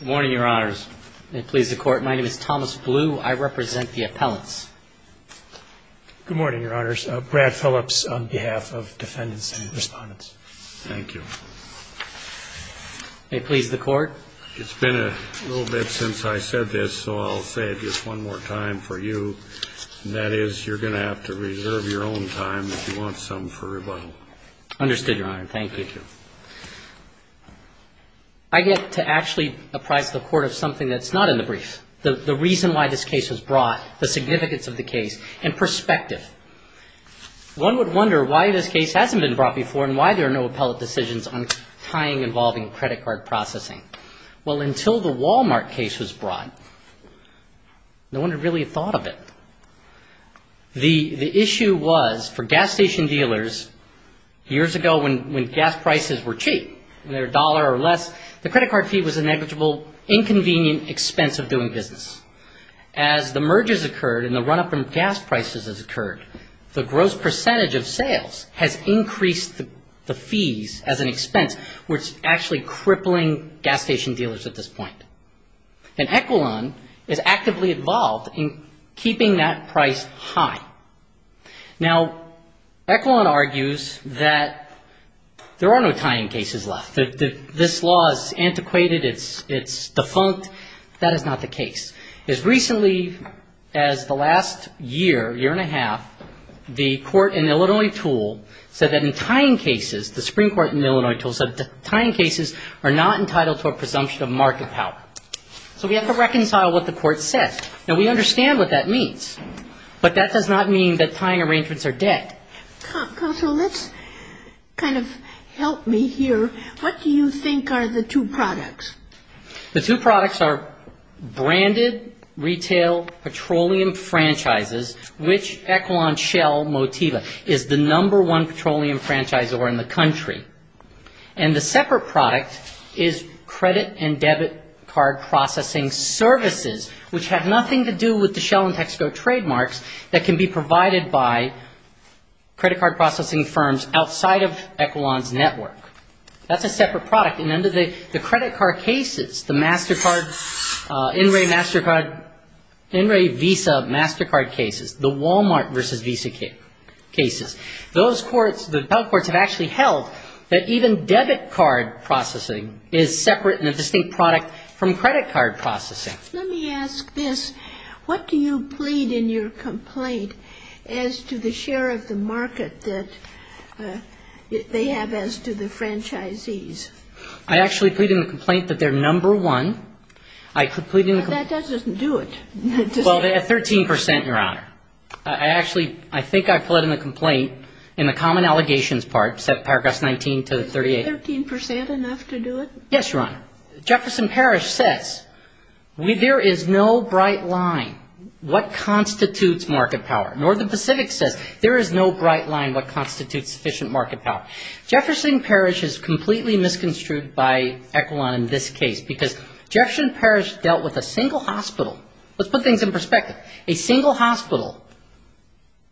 Good morning, your honors. May it please the court, my name is Thomas Blue. I represent the appellants. Good morning, your honors. Brad Phillips on behalf of defendants and respondents. Thank you. May it please the court. It's been a little bit since I said this, so I'll say it just one more time for you, and that is you're going to have to reserve your own time if you want some for rebuttal. Understood, your honor. Thank you. I get to actually apprise the court of something that's not in the brief, the reason why this case was brought, the significance of the case, and perspective. One would wonder why this case hasn't been brought before and why there are no appellate decisions on tying involving credit card processing. Well, until the Walmart case was brought, no one had really thought of it. The issue was for gas station dealers years ago when gas prices were cheap, they were a dollar or less, the credit card fee was a negligible, inconvenient expense of doing business. As the mergers occurred and the run-up in gas prices has occurred, the gross percentage of sales has increased the fees as an expense, which is actually crippling gas station dealers at this point. And Equilon is actively involved in keeping that price high. Now, Equilon argues that there are no tying cases left. This law is antiquated, it's defunct, that is not the case. As recently as the last year, year and a half, the court in Illinois tool said that in tying cases, the Supreme Court in Illinois tool said tying cases are not entitled to a presumption of market power. So we have to reconcile what the court said. Now, we understand what that means, but that does not mean that tying arrangements are dead. Counsel, let's kind of help me here. What do you think are the two products? The two products are branded retail petroleum franchises, which Equilon Shell Motiva is the number one petroleum franchisor in the country. And the separate product is credit and debit card processing services, which have nothing to do with the Shell and Texaco trademarks that can be provided by credit card processing firms outside of Equilon's network. That's a separate product. And under the credit card cases, the MasterCard, NRA MasterCard, NRA Visa MasterCard cases, the Walmart versus Visa cases, those courts have actually held that even debit card processing is separate and a distinct product from credit card processing. Let me ask this. What do you plead in your complaint as to the share of the market that they have as to the franchisees? I actually plead in the complaint that they're number one. I plead in the complaint. That doesn't do it. Well, they're at 13 percent, Your Honor. I actually, I think I plead in the complaint in the common allegations part, paragraph 19 to 38. Is 13 percent enough to do it? Yes, Your Honor. Jefferson Parish says there is no bright line what constitutes market power. Northern Pacific says there is no bright line what constitutes efficient market power. Jefferson Parish is completely misconstrued by Equilon in this case because Jefferson Parish dealt with a single hospital. Let's put things in perspective. A single hospital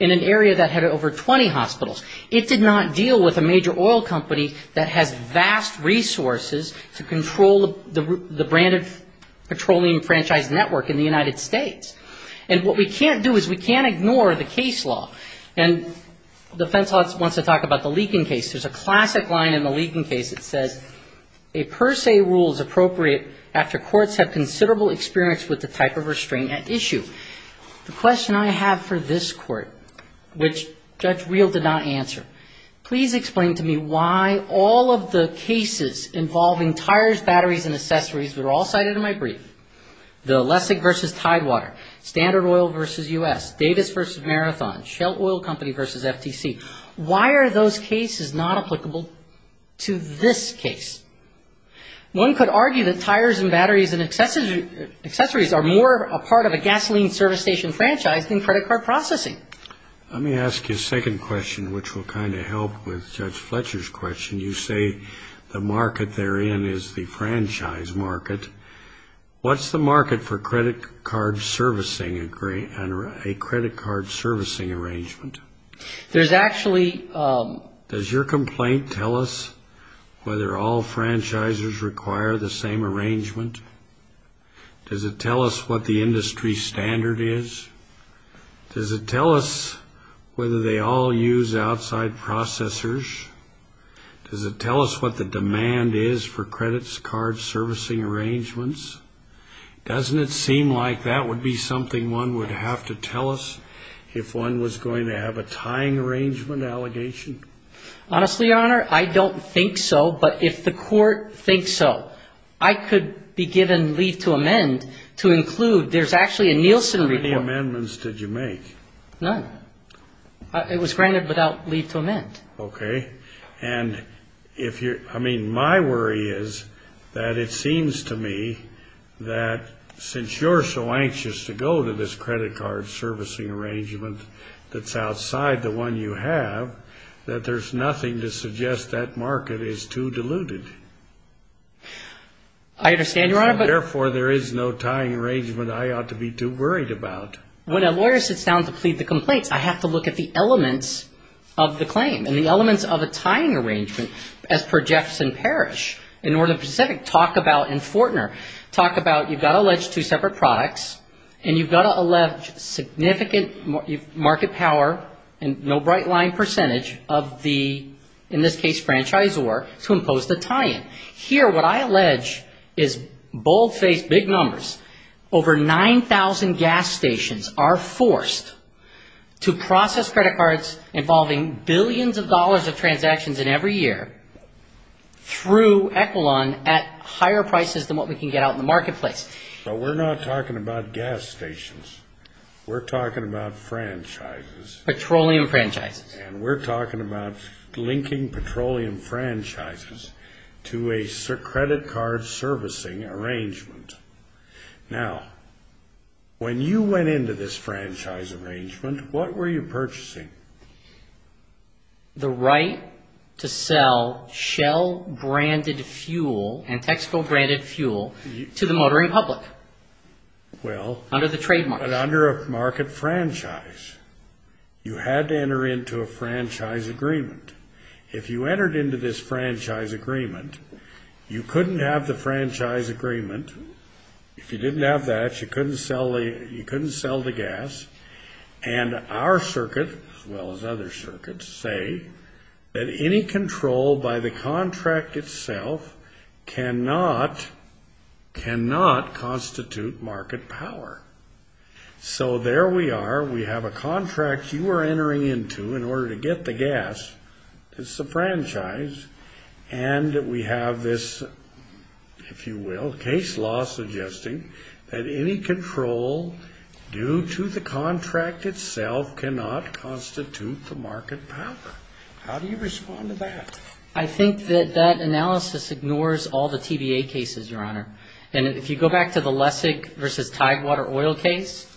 in an area that had over 20 hospitals, it did not deal with a major oil company that has vast resources to control the branded petroleum franchise network in the United States. And what we can't do is we can't ignore the case law. And defense wants to talk about the Leakin case. There's a classic line in the Leakin case that says a per se rule is appropriate after courts have considerable experience with the type of restraint at issue. The question I have for this court, which Judge Reel did not answer, please explain to me why all of the cases involving tires, batteries, and accessories that are all cited in my brief, the Lessig v. Tidewater, Standard Oil v. U.S., Davis v. Marathon, Shelt Oil Company v. FTC, why are those cases not applicable to this case? One could argue that tires and batteries and accessories are more a part of a gasoline service station franchise than credit card processing. Let me ask you a second question, which will kind of help with Judge Fletcher's question. You say the market they're in is the franchise market. What's the market for credit card servicing and a credit card servicing arrangement? Does your complaint tell us whether all franchisers require the same arrangement? Does it tell us what the industry standard is? Does it tell us whether they all use outside processors? Does it tell us what the demand is for credit card servicing arrangements? Doesn't it seem like that would be something one would have to tell us if one was going to have a tying arrangement allegation? Honestly, Your Honor, I don't think so, but if the court thinks so, I could be given leave to amend to include there's actually a Nielsen report. How many amendments did you make? Okay. And I mean, my worry is that it seems to me that since you're so anxious to go to this credit card servicing arrangement that's outside the one you have, that there's nothing to suggest that market is too diluted. Therefore, there is no tying arrangement I ought to be too worried about. When a lawyer sits down to plead the complaints, I have to look at the elements of the claim and the elements of a tying arrangement as per Jefferson Parish in Northern Pacific talk about in Fortner, talk about you've got to allege two separate products and you've got to allege significant market power and no bright line percentage of the, in this case, franchisor to impose the tying. Here, what I allege is bold-faced big numbers. Over 9,000 gas stations are forced to process credit cards involving billions of dollars of transactions in every year through Equilon at higher prices than what we can get out in the marketplace. But we're not talking about gas stations. We're talking about franchises. Petroleum franchises. Now, when you went into this franchise arrangement, what were you purchasing? The right to sell Shell-branded fuel and Texaco-branded fuel to the motoring public under the trademark. But under a market franchise, you had to enter into a franchise agreement. If you entered into this franchise agreement, you couldn't have the franchise agreement. If you didn't have that, you couldn't sell the gas. And our circuit, as well as other circuits, say that any control by the contract itself cannot constitute market power. So there we are. We have a contract you are entering into in order to get the gas, it's a franchise, and we have this, if you will, case law suggesting that any control due to the contract itself cannot constitute the market power. How do you respond to that? I think that that analysis ignores all the TBA cases, Your Honor. And if you go back to the Lessig v. Tidewater oil case,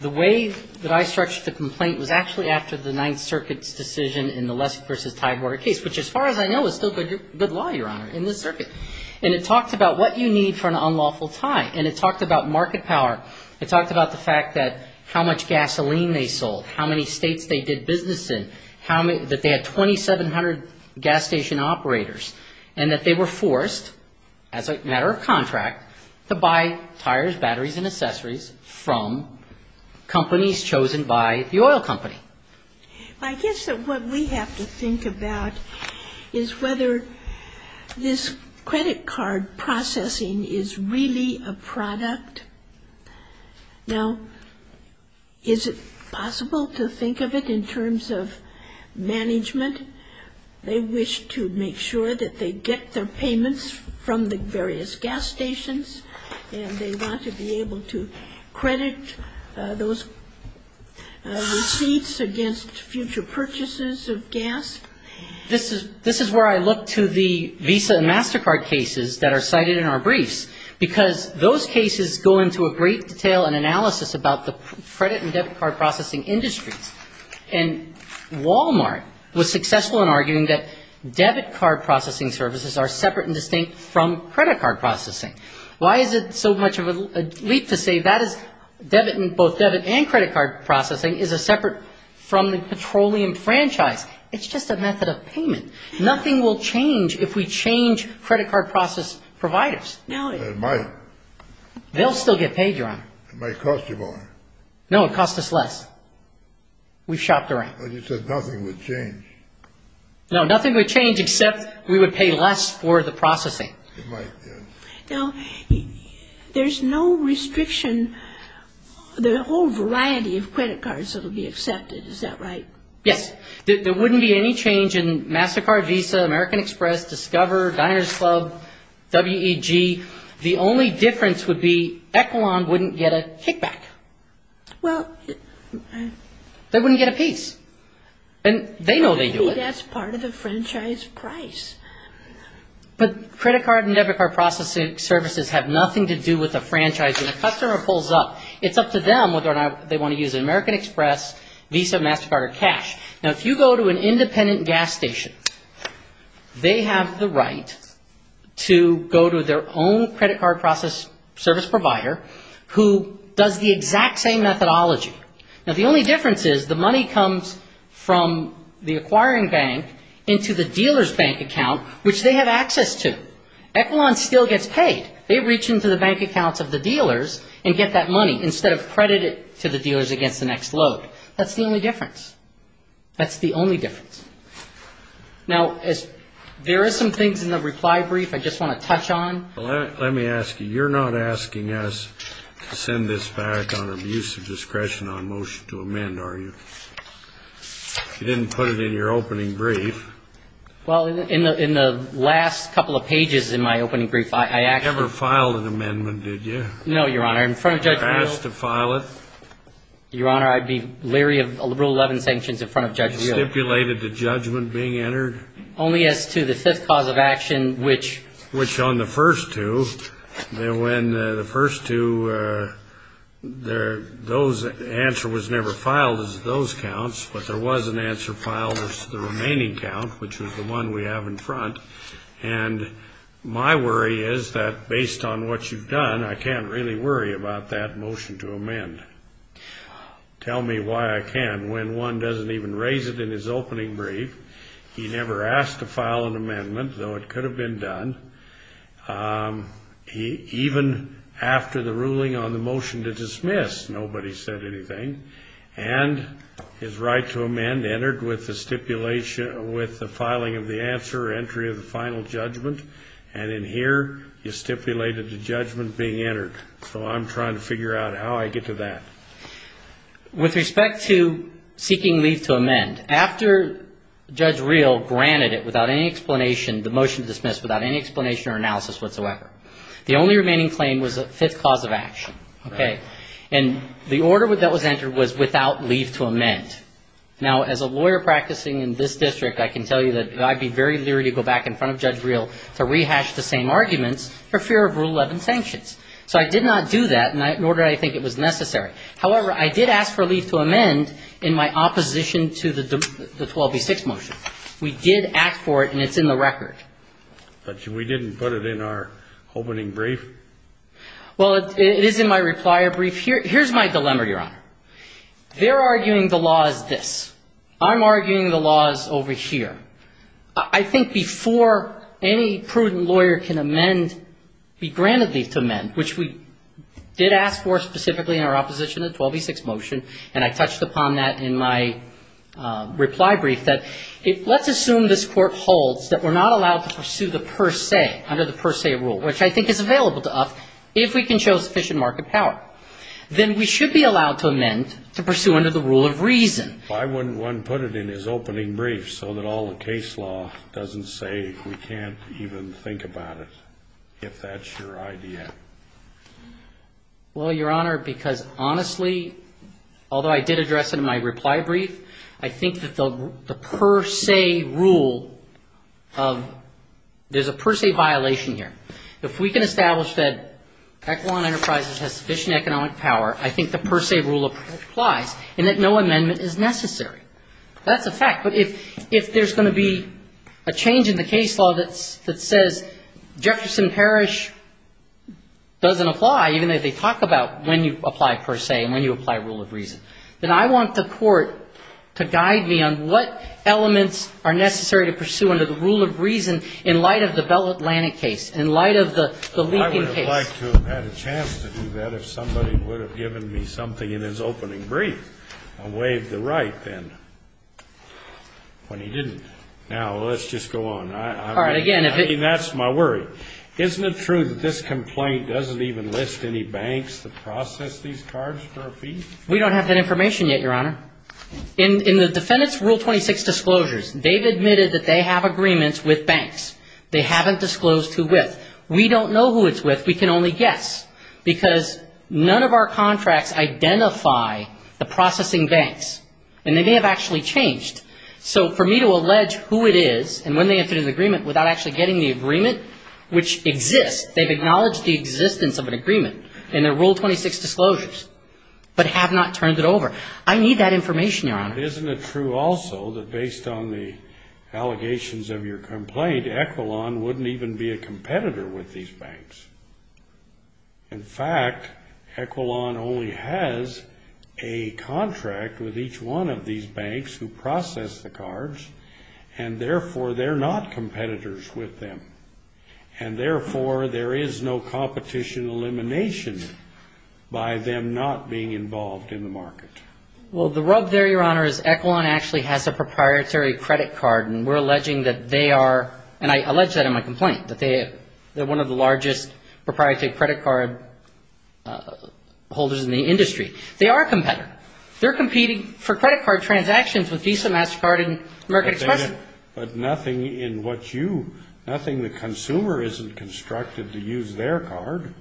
the way that I structured the complaint was actually after the Ninth Circuit's decision in the Lessig v. Tidewater case, which, as far as I know, is still good law, Your Honor, in this circuit. And it talked about what you need for an unlawful tie. And it talked about market power. It talked about the fact that how much gasoline they sold, how many states they did business in, that they had 2,700 gas station operators, and that they were forced, as a matter of contract, to buy tires, batteries, and accessories from companies chosen by the oil company. I guess that what we have to think about is whether this credit card processing is really a product. Now, is it possible to think of it in terms of management? They wish to make sure that they get their payments from the various gas stations, and they want to be able to credit those receipts against future purchases of gas. This is where I look to the Visa and MasterCard cases that are cited in our briefs, because those cases go into a great detail and analysis about the credit and debit card processing industries. And Walmart was successful in arguing that debit card processing services are separate and distinct from credit card processing. Why is it so much of a leap to say that is debit and both debit and credit card processing is separate from the petroleum franchise? It's just a method of payment. Nothing will change if we change credit card process providers. It might. They'll still get paid, Ron. It might cost you more. No, it costs us less. We've shopped around. You said nothing would change. No, nothing would change except we would pay less for the processing. Now, there's no restriction. There are a whole variety of credit cards that will be accepted. Is that right? Yes. There wouldn't be any change in MasterCard, Visa, American Express, Discover, Diner's Club, WEG. The only difference would be Equilon wouldn't get a kickback. Well... They wouldn't get a piece. And they know they do it. That's part of the franchise price. But credit card and debit card processing services have nothing to do with the franchise. When a customer pulls up, it's up to them whether or not they want to use American Express, Visa, MasterCard, or Cash. Now, if you go to an independent gas station, they have the right to go to their own credit card service provider who does the exact same methodology. Now, the only difference is the money comes from the acquiring bank into the dealer's bank account, which they have access to. Equilon still gets paid. They reach into the bank accounts of the dealers and get that money instead of credit it to the dealers against the next load. That's the only difference. Now, there are some things in the reply brief I just want to touch on. Let me ask you, you're not asking us to send this back on abuse of discretion on motion to amend, are you? You didn't put it in your opening brief. Well, in the last couple of pages in my opening brief, I actually... You never filed an amendment, did you? No, Your Honor. I'd be leery of Rule 11 sanctions in front of Judge Wheeler. And you stipulated the judgment being entered? Only as to the fifth cause of action, which... Which on the first two, when the first two, the answer was never filed as those counts, but there was an answer filed as the remaining count, which was the one we have in front. And my worry is that based on what you've done, I can't really worry about that motion to amend. Tell me why I can, when one doesn't even raise it in his opening brief. He never asked to file an amendment, though it could have been done. Even after the ruling on the motion to dismiss, nobody said anything. And his right to amend entered with the stipulation, with the filing of the answer, entry of the final judgment. And in here, you stipulated the judgment being entered. So I'm trying to figure out how I get to that. With respect to seeking leave to amend, after Judge Reel granted it without any explanation, the motion to dismiss, without any explanation or analysis whatsoever, the only remaining claim was the fifth cause of action. And the order that was entered was without leave to amend. Now, as a lawyer practicing in this district, I can tell you that I'd be very leery to go back in front of Judge Reel to rehash the same arguments for fear of Rule 11 sanctions. So I did not do that, nor did I think it was necessary. However, I did ask for leave to amend in my opposition to the 12B6 motion. We did act for it, and it's in the record. But we didn't put it in our opening brief? Well, it is in my replier brief. Here's my dilemma, Your Honor. They're arguing the law is this. I'm arguing the law is over here. I think before any prudent lawyer can amend, be granted leave to amend, which we did ask for specifically in our opposition to the 12B6 motion, and I touched upon that in my reply brief, that let's assume this Court holds that we're not allowed to pursue the per se, under the per se rule, which I think is available to us, if we can show sufficient market power. Then we should be allowed to amend to pursue under the rule of reason. Why wouldn't one put it in his opening brief so that all the case law doesn't say we can't even think about it, if that's your idea? Well, Your Honor, because honestly, although I did address it in my reply brief, I think that the per se rule of, there's a per se violation here. If we can establish that Eklund Enterprises has sufficient economic power, I think the per se rule applies, and that no amendment is necessary. That's a fact. But if there's going to be a change in the case law that says Jefferson Parish doesn't apply, even though they talk about when you apply per se and when you apply rule of reason, then I want the Court to guide me on what elements are necessary to pursue under the rule of reason in light of the Bell Atlantic case, in light of the Leaping case. I would have liked to have had a chance to do that if somebody would have given me something in his opening brief. I'll waive the right, then, when he didn't. Now, let's just go on. I mean, that's my worry. Isn't it true that this complaint doesn't even list any banks that process these cards for a fee? We don't have that information yet, Your Honor. In the defendant's Rule 26 disclosures, they've admitted that they have agreements with banks. They haven't disclosed who with. We don't know who it's with. We can only guess, because none of our contracts identify the processing banks. And they may have actually changed. So for me to allege who it is, and when they entered an agreement, without actually getting the agreement, which exists, they've acknowledged the existence of an agreement in their Rule 26 disclosures, but have not turned it over. I need that information, Your Honor. Isn't it true also that based on the allegations of your complaint, Equilon wouldn't even be a competitor with these banks? In fact, Equilon only has a contract with each one of these banks who process these cards. And therefore, they're not competitors with them. And therefore, there is no competition elimination by them not being involved in the market. Well, the rub there, Your Honor, is Equilon actually has a proprietary credit card, and we're alleging that they are, and I allege that in my complaint, that they're one of the largest proprietary credit card holders in the industry. They are a competitor. They're competing for credit card transactions with Visa, MasterCard, and American Express. But nothing in what you, nothing the consumer isn't constructed to use their card.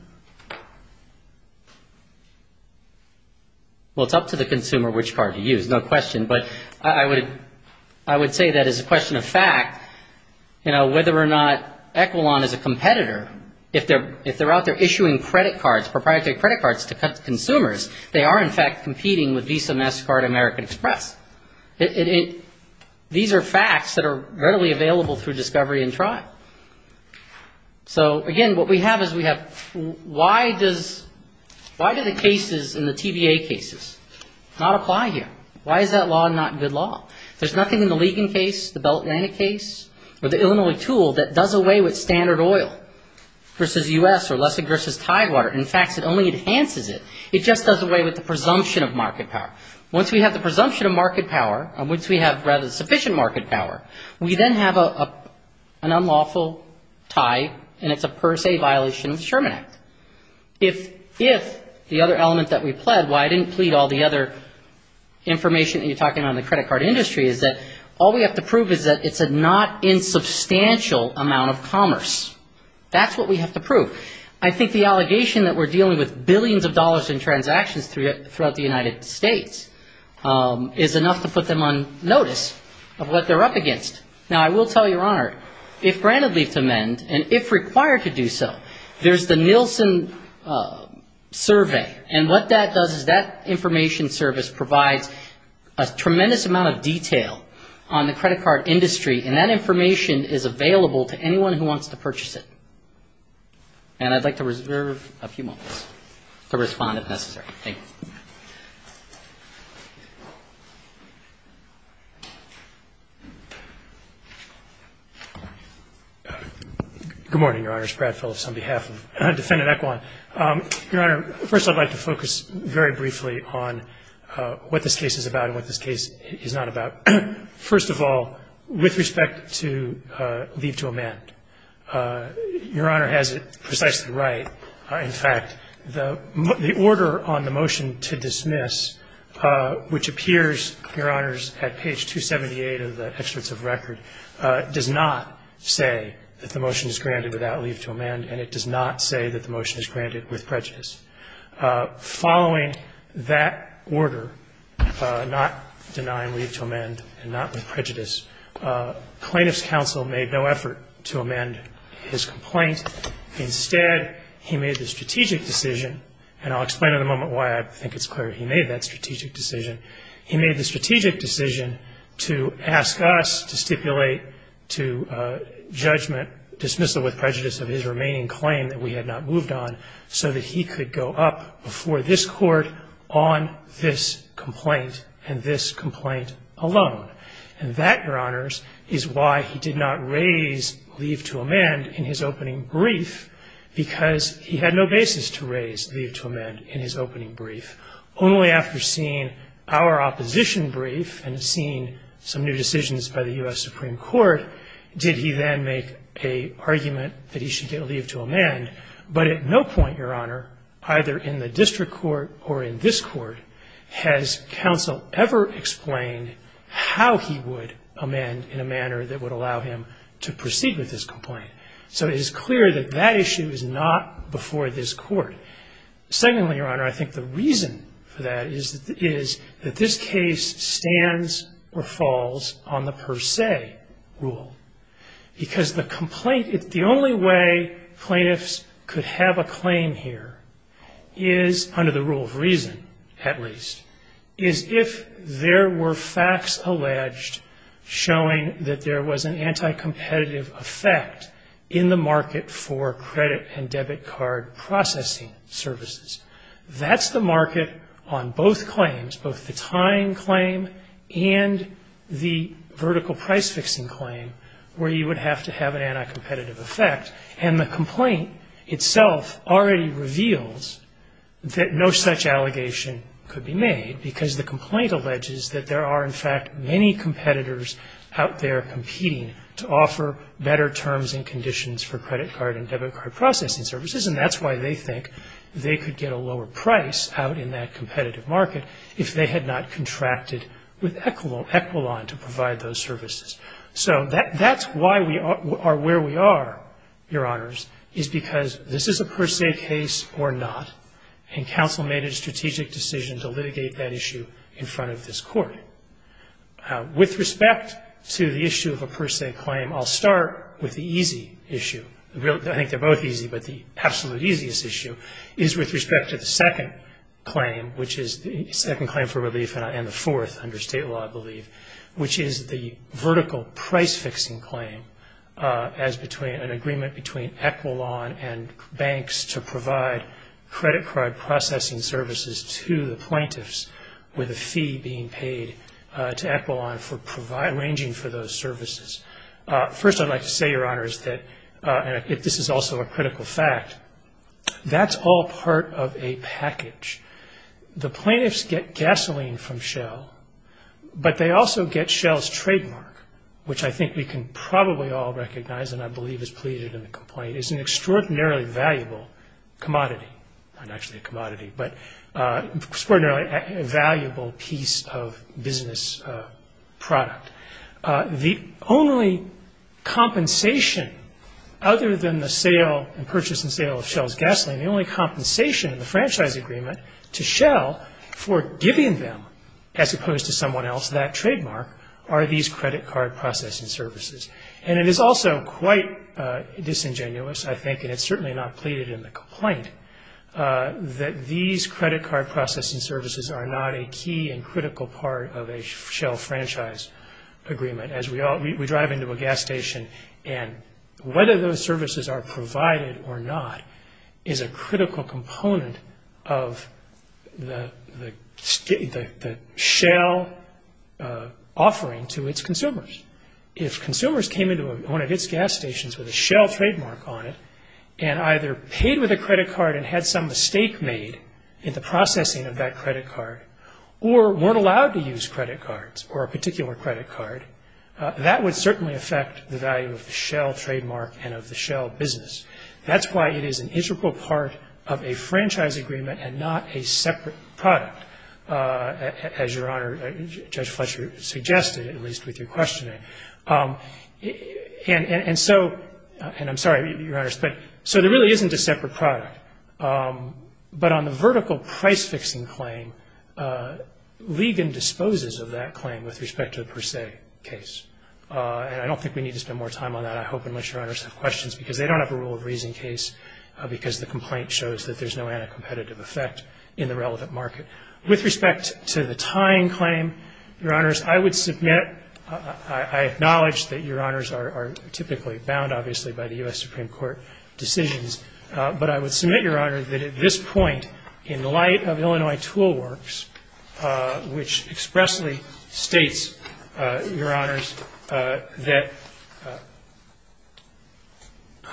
Well, it's up to the consumer which card to use, no question. But I would say that as a question of fact, you know, whether or not Equilon is a competitor, if they're out there issuing credit cards, proprietary credit cards to consumers, they are in fact competing with Visa, MasterCard, and American Express. These are facts that are readily available through discovery and trial. So again, what we have is we have, why does, why do the cases in the TBA cases not apply here? Why is that law not good law? There's nothing in the Ligon case, the Belt and Inlet case, or the Illinois tool that does away with standard oil versus U.S. or Lessig versus Tidewater. In fact, it only enhances it. It just does away with the presumption of market power. Once we have the presumption of market power, and once we have rather sufficient market power, we then have an unlawful tie, and it's a per se violation of the Sherman Act. If the other element that we pled, why I didn't plead all the other information that you're talking about in the credit card industry is that all we have to prove is that it's a not insubstantial amount of commerce. That's what we have to prove. I think the allegation that we're dealing with billions of dollars in transactions throughout the United States is enough to put them on notice of what they're up against. Now, I will tell you, Your Honor, if granted leave to amend, and if required to do so, there's the Nielsen survey, and what that does is that information service provides a tremendous amount of detail on the credit card industry, and that information is available to anyone who wants to purchase it. And I'd like to reserve a few moments to respond if necessary. Good morning, Your Honor. It's Brad Phillips on behalf of Defendant Equan. Your Honor, first I'd like to focus very briefly on what this case is about and what this case is not about. First of all, with respect to leave to amend, Your Honor has it precisely right. In fact, the order on the motion to dismiss, which appears, Your Honors, at page 278 of the experts of record, does not say that the motion is granted without leave to amend, and it does not say that the motion is granted with prejudice. Following that order, not denying leave to amend and not with prejudice, plaintiff's counsel made no effort to amend his complaint. Instead, he made the strategic decision, and I'll explain in a moment why I think it's clear he made that strategic decision. He made the strategic decision to ask us to stipulate to judgment, dismissal with prejudice of his remaining claim that we had not moved on, so that he could go up before this Court on this complaint and this complaint alone. And that, Your Honors, is why he did not raise leave to amend in his opening brief, because he had no basis to raise leave to amend in his opening brief. Only after seeing our opposition brief and seeing some new decisions by the U.S. Supreme Court did he then make a argument that he should get leave to amend. But at no point, Your Honor, either in the district court or in this Court, has counsel ever explained how he would amend in a manner that would allow him to proceed with this complaint. So it is clear that that issue is not before this Court. Secondly, Your Honor, I think the reason for that is that this case stands or falls on the per se rule. Because the complaint, the only way plaintiffs could have a claim here is, under the rule of reason at least, is if there were facts alleged showing that there was an anti-competitive effect in the market for credit and debit card processing services. That's the market on both claims, both the tying claim and the vertical price-fixing claim, where you would have to have an anti-competitive effect. And the complaint itself already reveals that no such allegation could be made, because the complaint alleges that there are, in fact, many competitors out there competing to offer better terms and conditions for credit card and debit card processing services. And that's why they think they could get a lower price out in that competitive market if they had not contracted with Equilon to provide those services. So that's why we are where we are, Your Honors, is because this is a per se case or not, and counsel made a strategic decision to litigate that issue in front of this Court. With respect to the issue of a per se claim, I'll start with the easy issue. I think they're both easy, but the absolute easiest issue is with respect to the second claim, which is the second claim for relief and the fourth under state law, I believe, which is the vertical price-fixing claim as between an agreement between Equilon and banks to provide credit card processing services to the plaintiffs with a fee being paid to Equilon for arranging for those services. First, I'd like to say, Your Honors, that this is also a critical fact. That's all part of a package. The plaintiffs get gasoline from Shell, but they also get Shell's trademark, which I think we can probably all recognize and I believe is pleaded in the complaint, is an extraordinarily valuable commodity, not actually a commodity, but extraordinarily valuable piece of business product. The only compensation other than the purchase and sale of Shell's gasoline, the only compensation in the franchise agreement to Shell for giving them, as opposed to someone else, that trademark, are these credit card processing services. And it is also quite disingenuous, I think, and it's certainly not pleaded in the complaint, that these credit card processing services are not a key and critical part of a Shell franchise agreement, as we drive into a gas station. And whether those services are provided or not is a critical component of the Shell offering to its consumers. If consumers came into one of its gas stations with a Shell trademark on it and either paid with a credit card and had some mistake made in the processing of that credit card or weren't allowed to use credit cards or a particular credit card, that would certainly affect the value of the Shell trademark and of the Shell business. That's why it is an integral part of a franchise agreement and not a separate product, as Your Honor, Judge Fletcher suggested, at least with your questioning. And so, and I'm sorry, Your Honors, but so there really isn't a separate product, but on the vertical price-fixing claim, Ligon disposes of that claim with respect to the Per Se case. And I don't think we need to spend more time on that, I hope, unless Your Honors have questions, because they don't have a rule of reason case because the complaint shows that there's no anti-competitive effect in the relevant market. With respect to the tying claim, Your Honors, I would submit, I acknowledge that Your Honors are typically bound, obviously, by the U.S. Supreme Court decisions, but I would submit, Your Honor, that at this point, in light of Illinois Tool Works, which expressly states, Your Honors, that,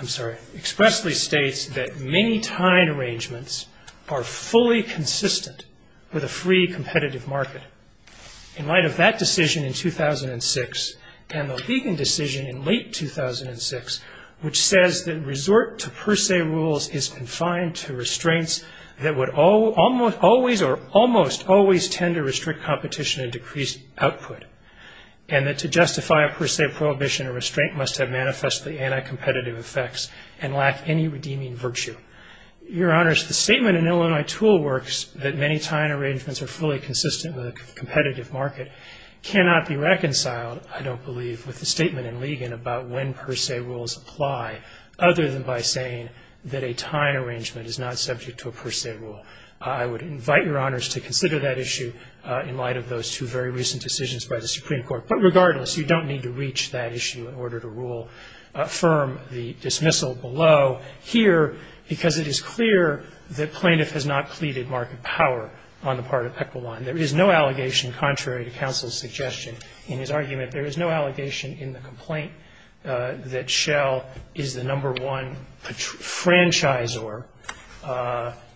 I'm sorry, expressly states that many tying arrangements are fully consistent with a free competitive market. In light of that decision in 2006 and the Ligon decision in late 2006, which says that resort to Per Se rules is confined to restraints that would always or almost always tend to restrict competition and decrease output, and that to justify a Per Se prohibition, a restraint must have manifestly anti-competitive effects and lack any redeeming virtue. Your Honors, the statement in Illinois Tool Works that many tying arrangements are fully consistent with a competitive market cannot be reconciled, I don't believe, with the statement in Ligon about when Per Se rules apply, other than by saying that a tying arrangement is not subject to a Per Se rule. I would invite Your Honors to consider that issue in light of those two very recent decisions by the Supreme Court. But regardless, you don't need to reach that issue in order to rule firm the dismissal below here, because it is clear that Plaintiff has not pleaded market power on the part of Pequodon. There is no allegation contrary to counsel's suggestion in his argument. There is no allegation in the complaint that Shell is the number one franchisor.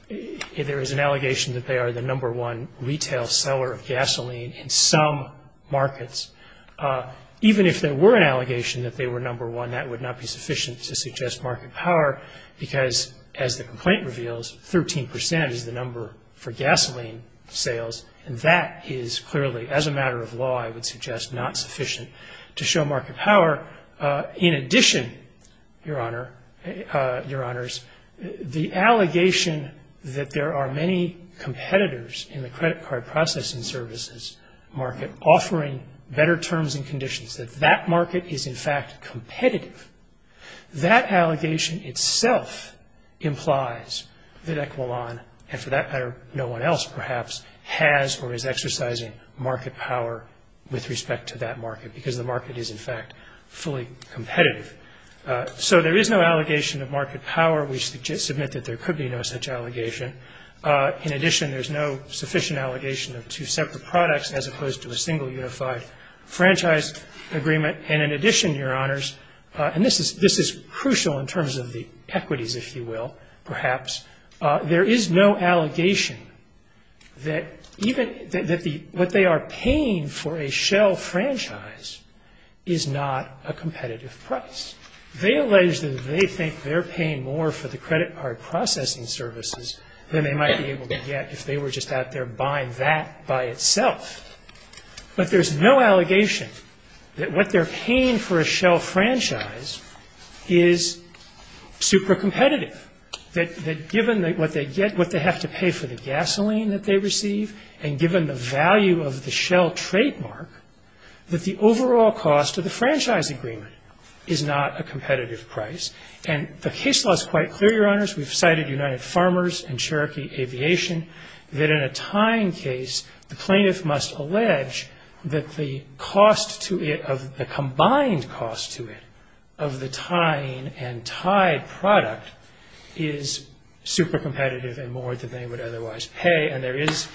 There is an allegation that they are the number one retail seller of gasoline in some markets. Even if there were an allegation that they were number one, that would not be sufficient to suggest market power, because as the complaint reveals, 13% is the number for gasoline sales, and that is clearly, as a matter of law, I would suggest, not sufficient to show market power. In addition, Your Honors, the allegation that there are many competitors in the credit card processing services market offering better terms and conditions, that that market is in fact competitive, that allegation itself implies that Equilon, and for that matter no one else perhaps, has or is exercising market power with respect to that market, because the market is in fact fully competitive. So there is no allegation of market power. We submit that there could be no such allegation. In addition, there is no sufficient allegation of two separate products as opposed to a single unified franchise agreement. And in addition, Your Honors, and this is crucial in terms of the equities, if you will, perhaps, there is no allegation that what they are paying for a shell franchise is not a competitive price. They allege that they think they're paying more for the credit card processing services than they might be able to get if they were just out there buying that by itself. But there's no allegation that what they're paying for a shell franchise is super competitive, that given what they have to pay for the gasoline that they receive and given the value of the shell trademark, that the overall cost of the franchise agreement is not a competitive price. And the case law is quite clear, Your Honors. We've cited United Farmers and Cherokee Aviation, that in a tying case, the plaintiff must allege that the cost to it, the combined cost to it of the tying and tied product is super competitive and more than they would otherwise pay. And there is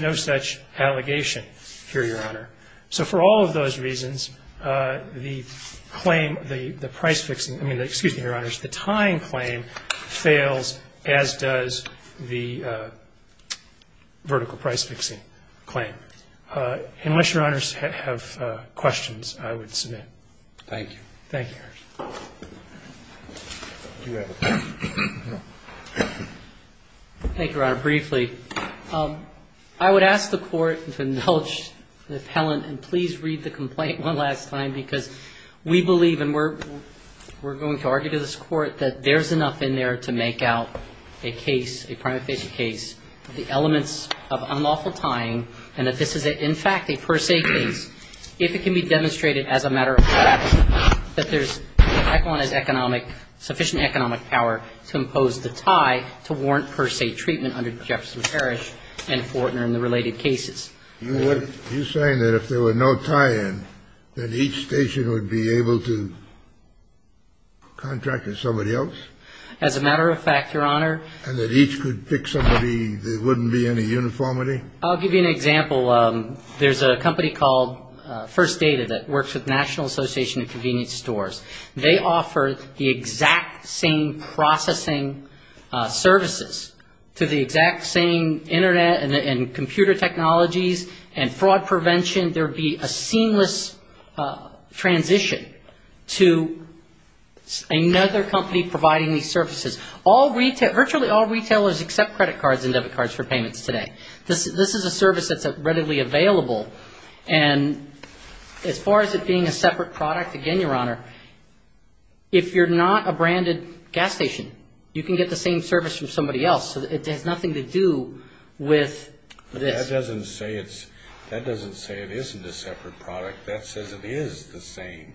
no such allegation here, Your Honor. So for all of those reasons, the claim, the price fixing, I mean, excuse me, Your Honors, the tying claim fails, as does the vertical price fixing claim. Unless Your Honors have questions, I would submit. Thank you. Thank you, Your Honors. Thank you, Your Honor. Briefly, I would ask the Court to nulch the appellant and please read the complaint one last time, because we believe and we're going to argue to this Court that there's enough in there to make out a case, a prima facie case, the elements of unlawful tying and that this is, in fact, a per se case, if it can be demonstrated as a matter of fact that there's the appellant's economic, sufficient economic power to impose the tie to warrant per se treatment under Jefferson Parish and Fortner and the related cases. You're saying that if there were no tie-in, that each station would be able to contract with somebody else? As a matter of fact, Your Honor. And that each could pick somebody, there wouldn't be any uniformity? I'll give you an example. There's a company called First Data that works with the National Association of Convenience Stores. They offer the exact same processing services to the exact same internet and computer technologies and fraud prevention. There would be a seamless transition to another company providing these services. Virtually all retailers accept credit cards and debit cards for payments today. This is a service that's readily available and as far as it being a separate product, again, Your Honor, if you're not a branded gas station, you can get the same service from somebody else. It has nothing to do with this. That doesn't say it isn't a separate product. That says it is the same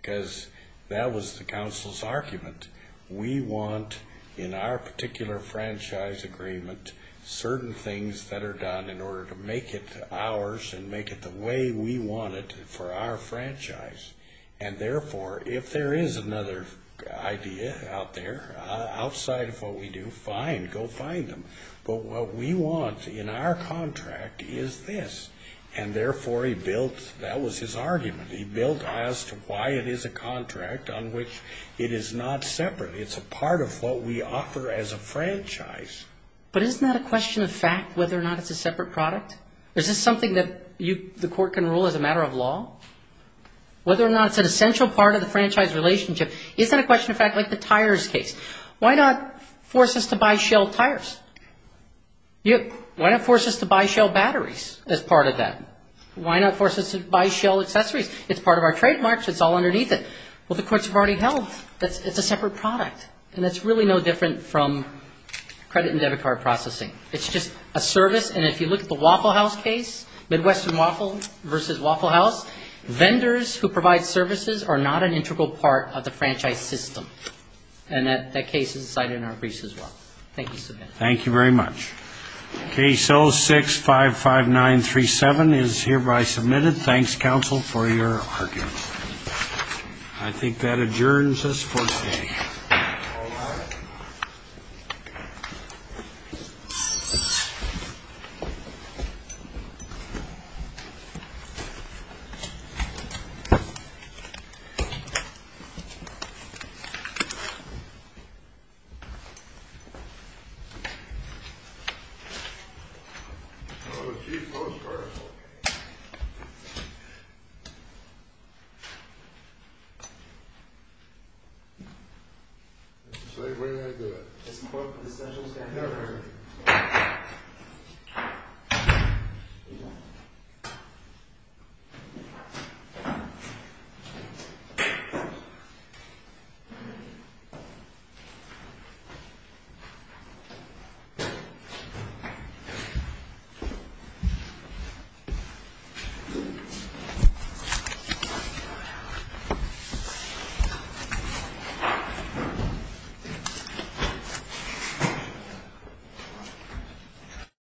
because that was the counsel's argument. We want, in our particular franchise agreement, certain things that are done in order to make it ours and make it the way we want it for our franchise. And therefore, if there is another idea out there, outside of what we do, fine, go find them. But what we want in our contract is this. And therefore, he built, that was his argument, he built as to why it is a contract on which it is not separate. It's a part of what we offer as a franchise. But isn't that a question of fact, whether or not it's a separate product? Is this something that the court can rule as a matter of law? Whether or not it's an essential part of the franchise relationship, is that a question of fact like the tires case? Why not force us to buy shell tires? Why not force us to buy shell batteries as part of that? Why not force us to buy shell accessories? It's part of our trademarks. It's all underneath it. Well, the courts have already held that it's a separate product. And that's really no different from credit and debit card processing. It's just a service, and if you look at the Waffle House case, Midwestern Waffle versus Waffle House, vendors who provide services are not an integral part of the franchise system. And that case is cited in our briefs as well. Thank you so much. Thank you very much. Case 0655937 is hereby submitted. Thanks, counsel, for your argument. I think that adjourns us for today. All rise. Where did I do it? Thank you.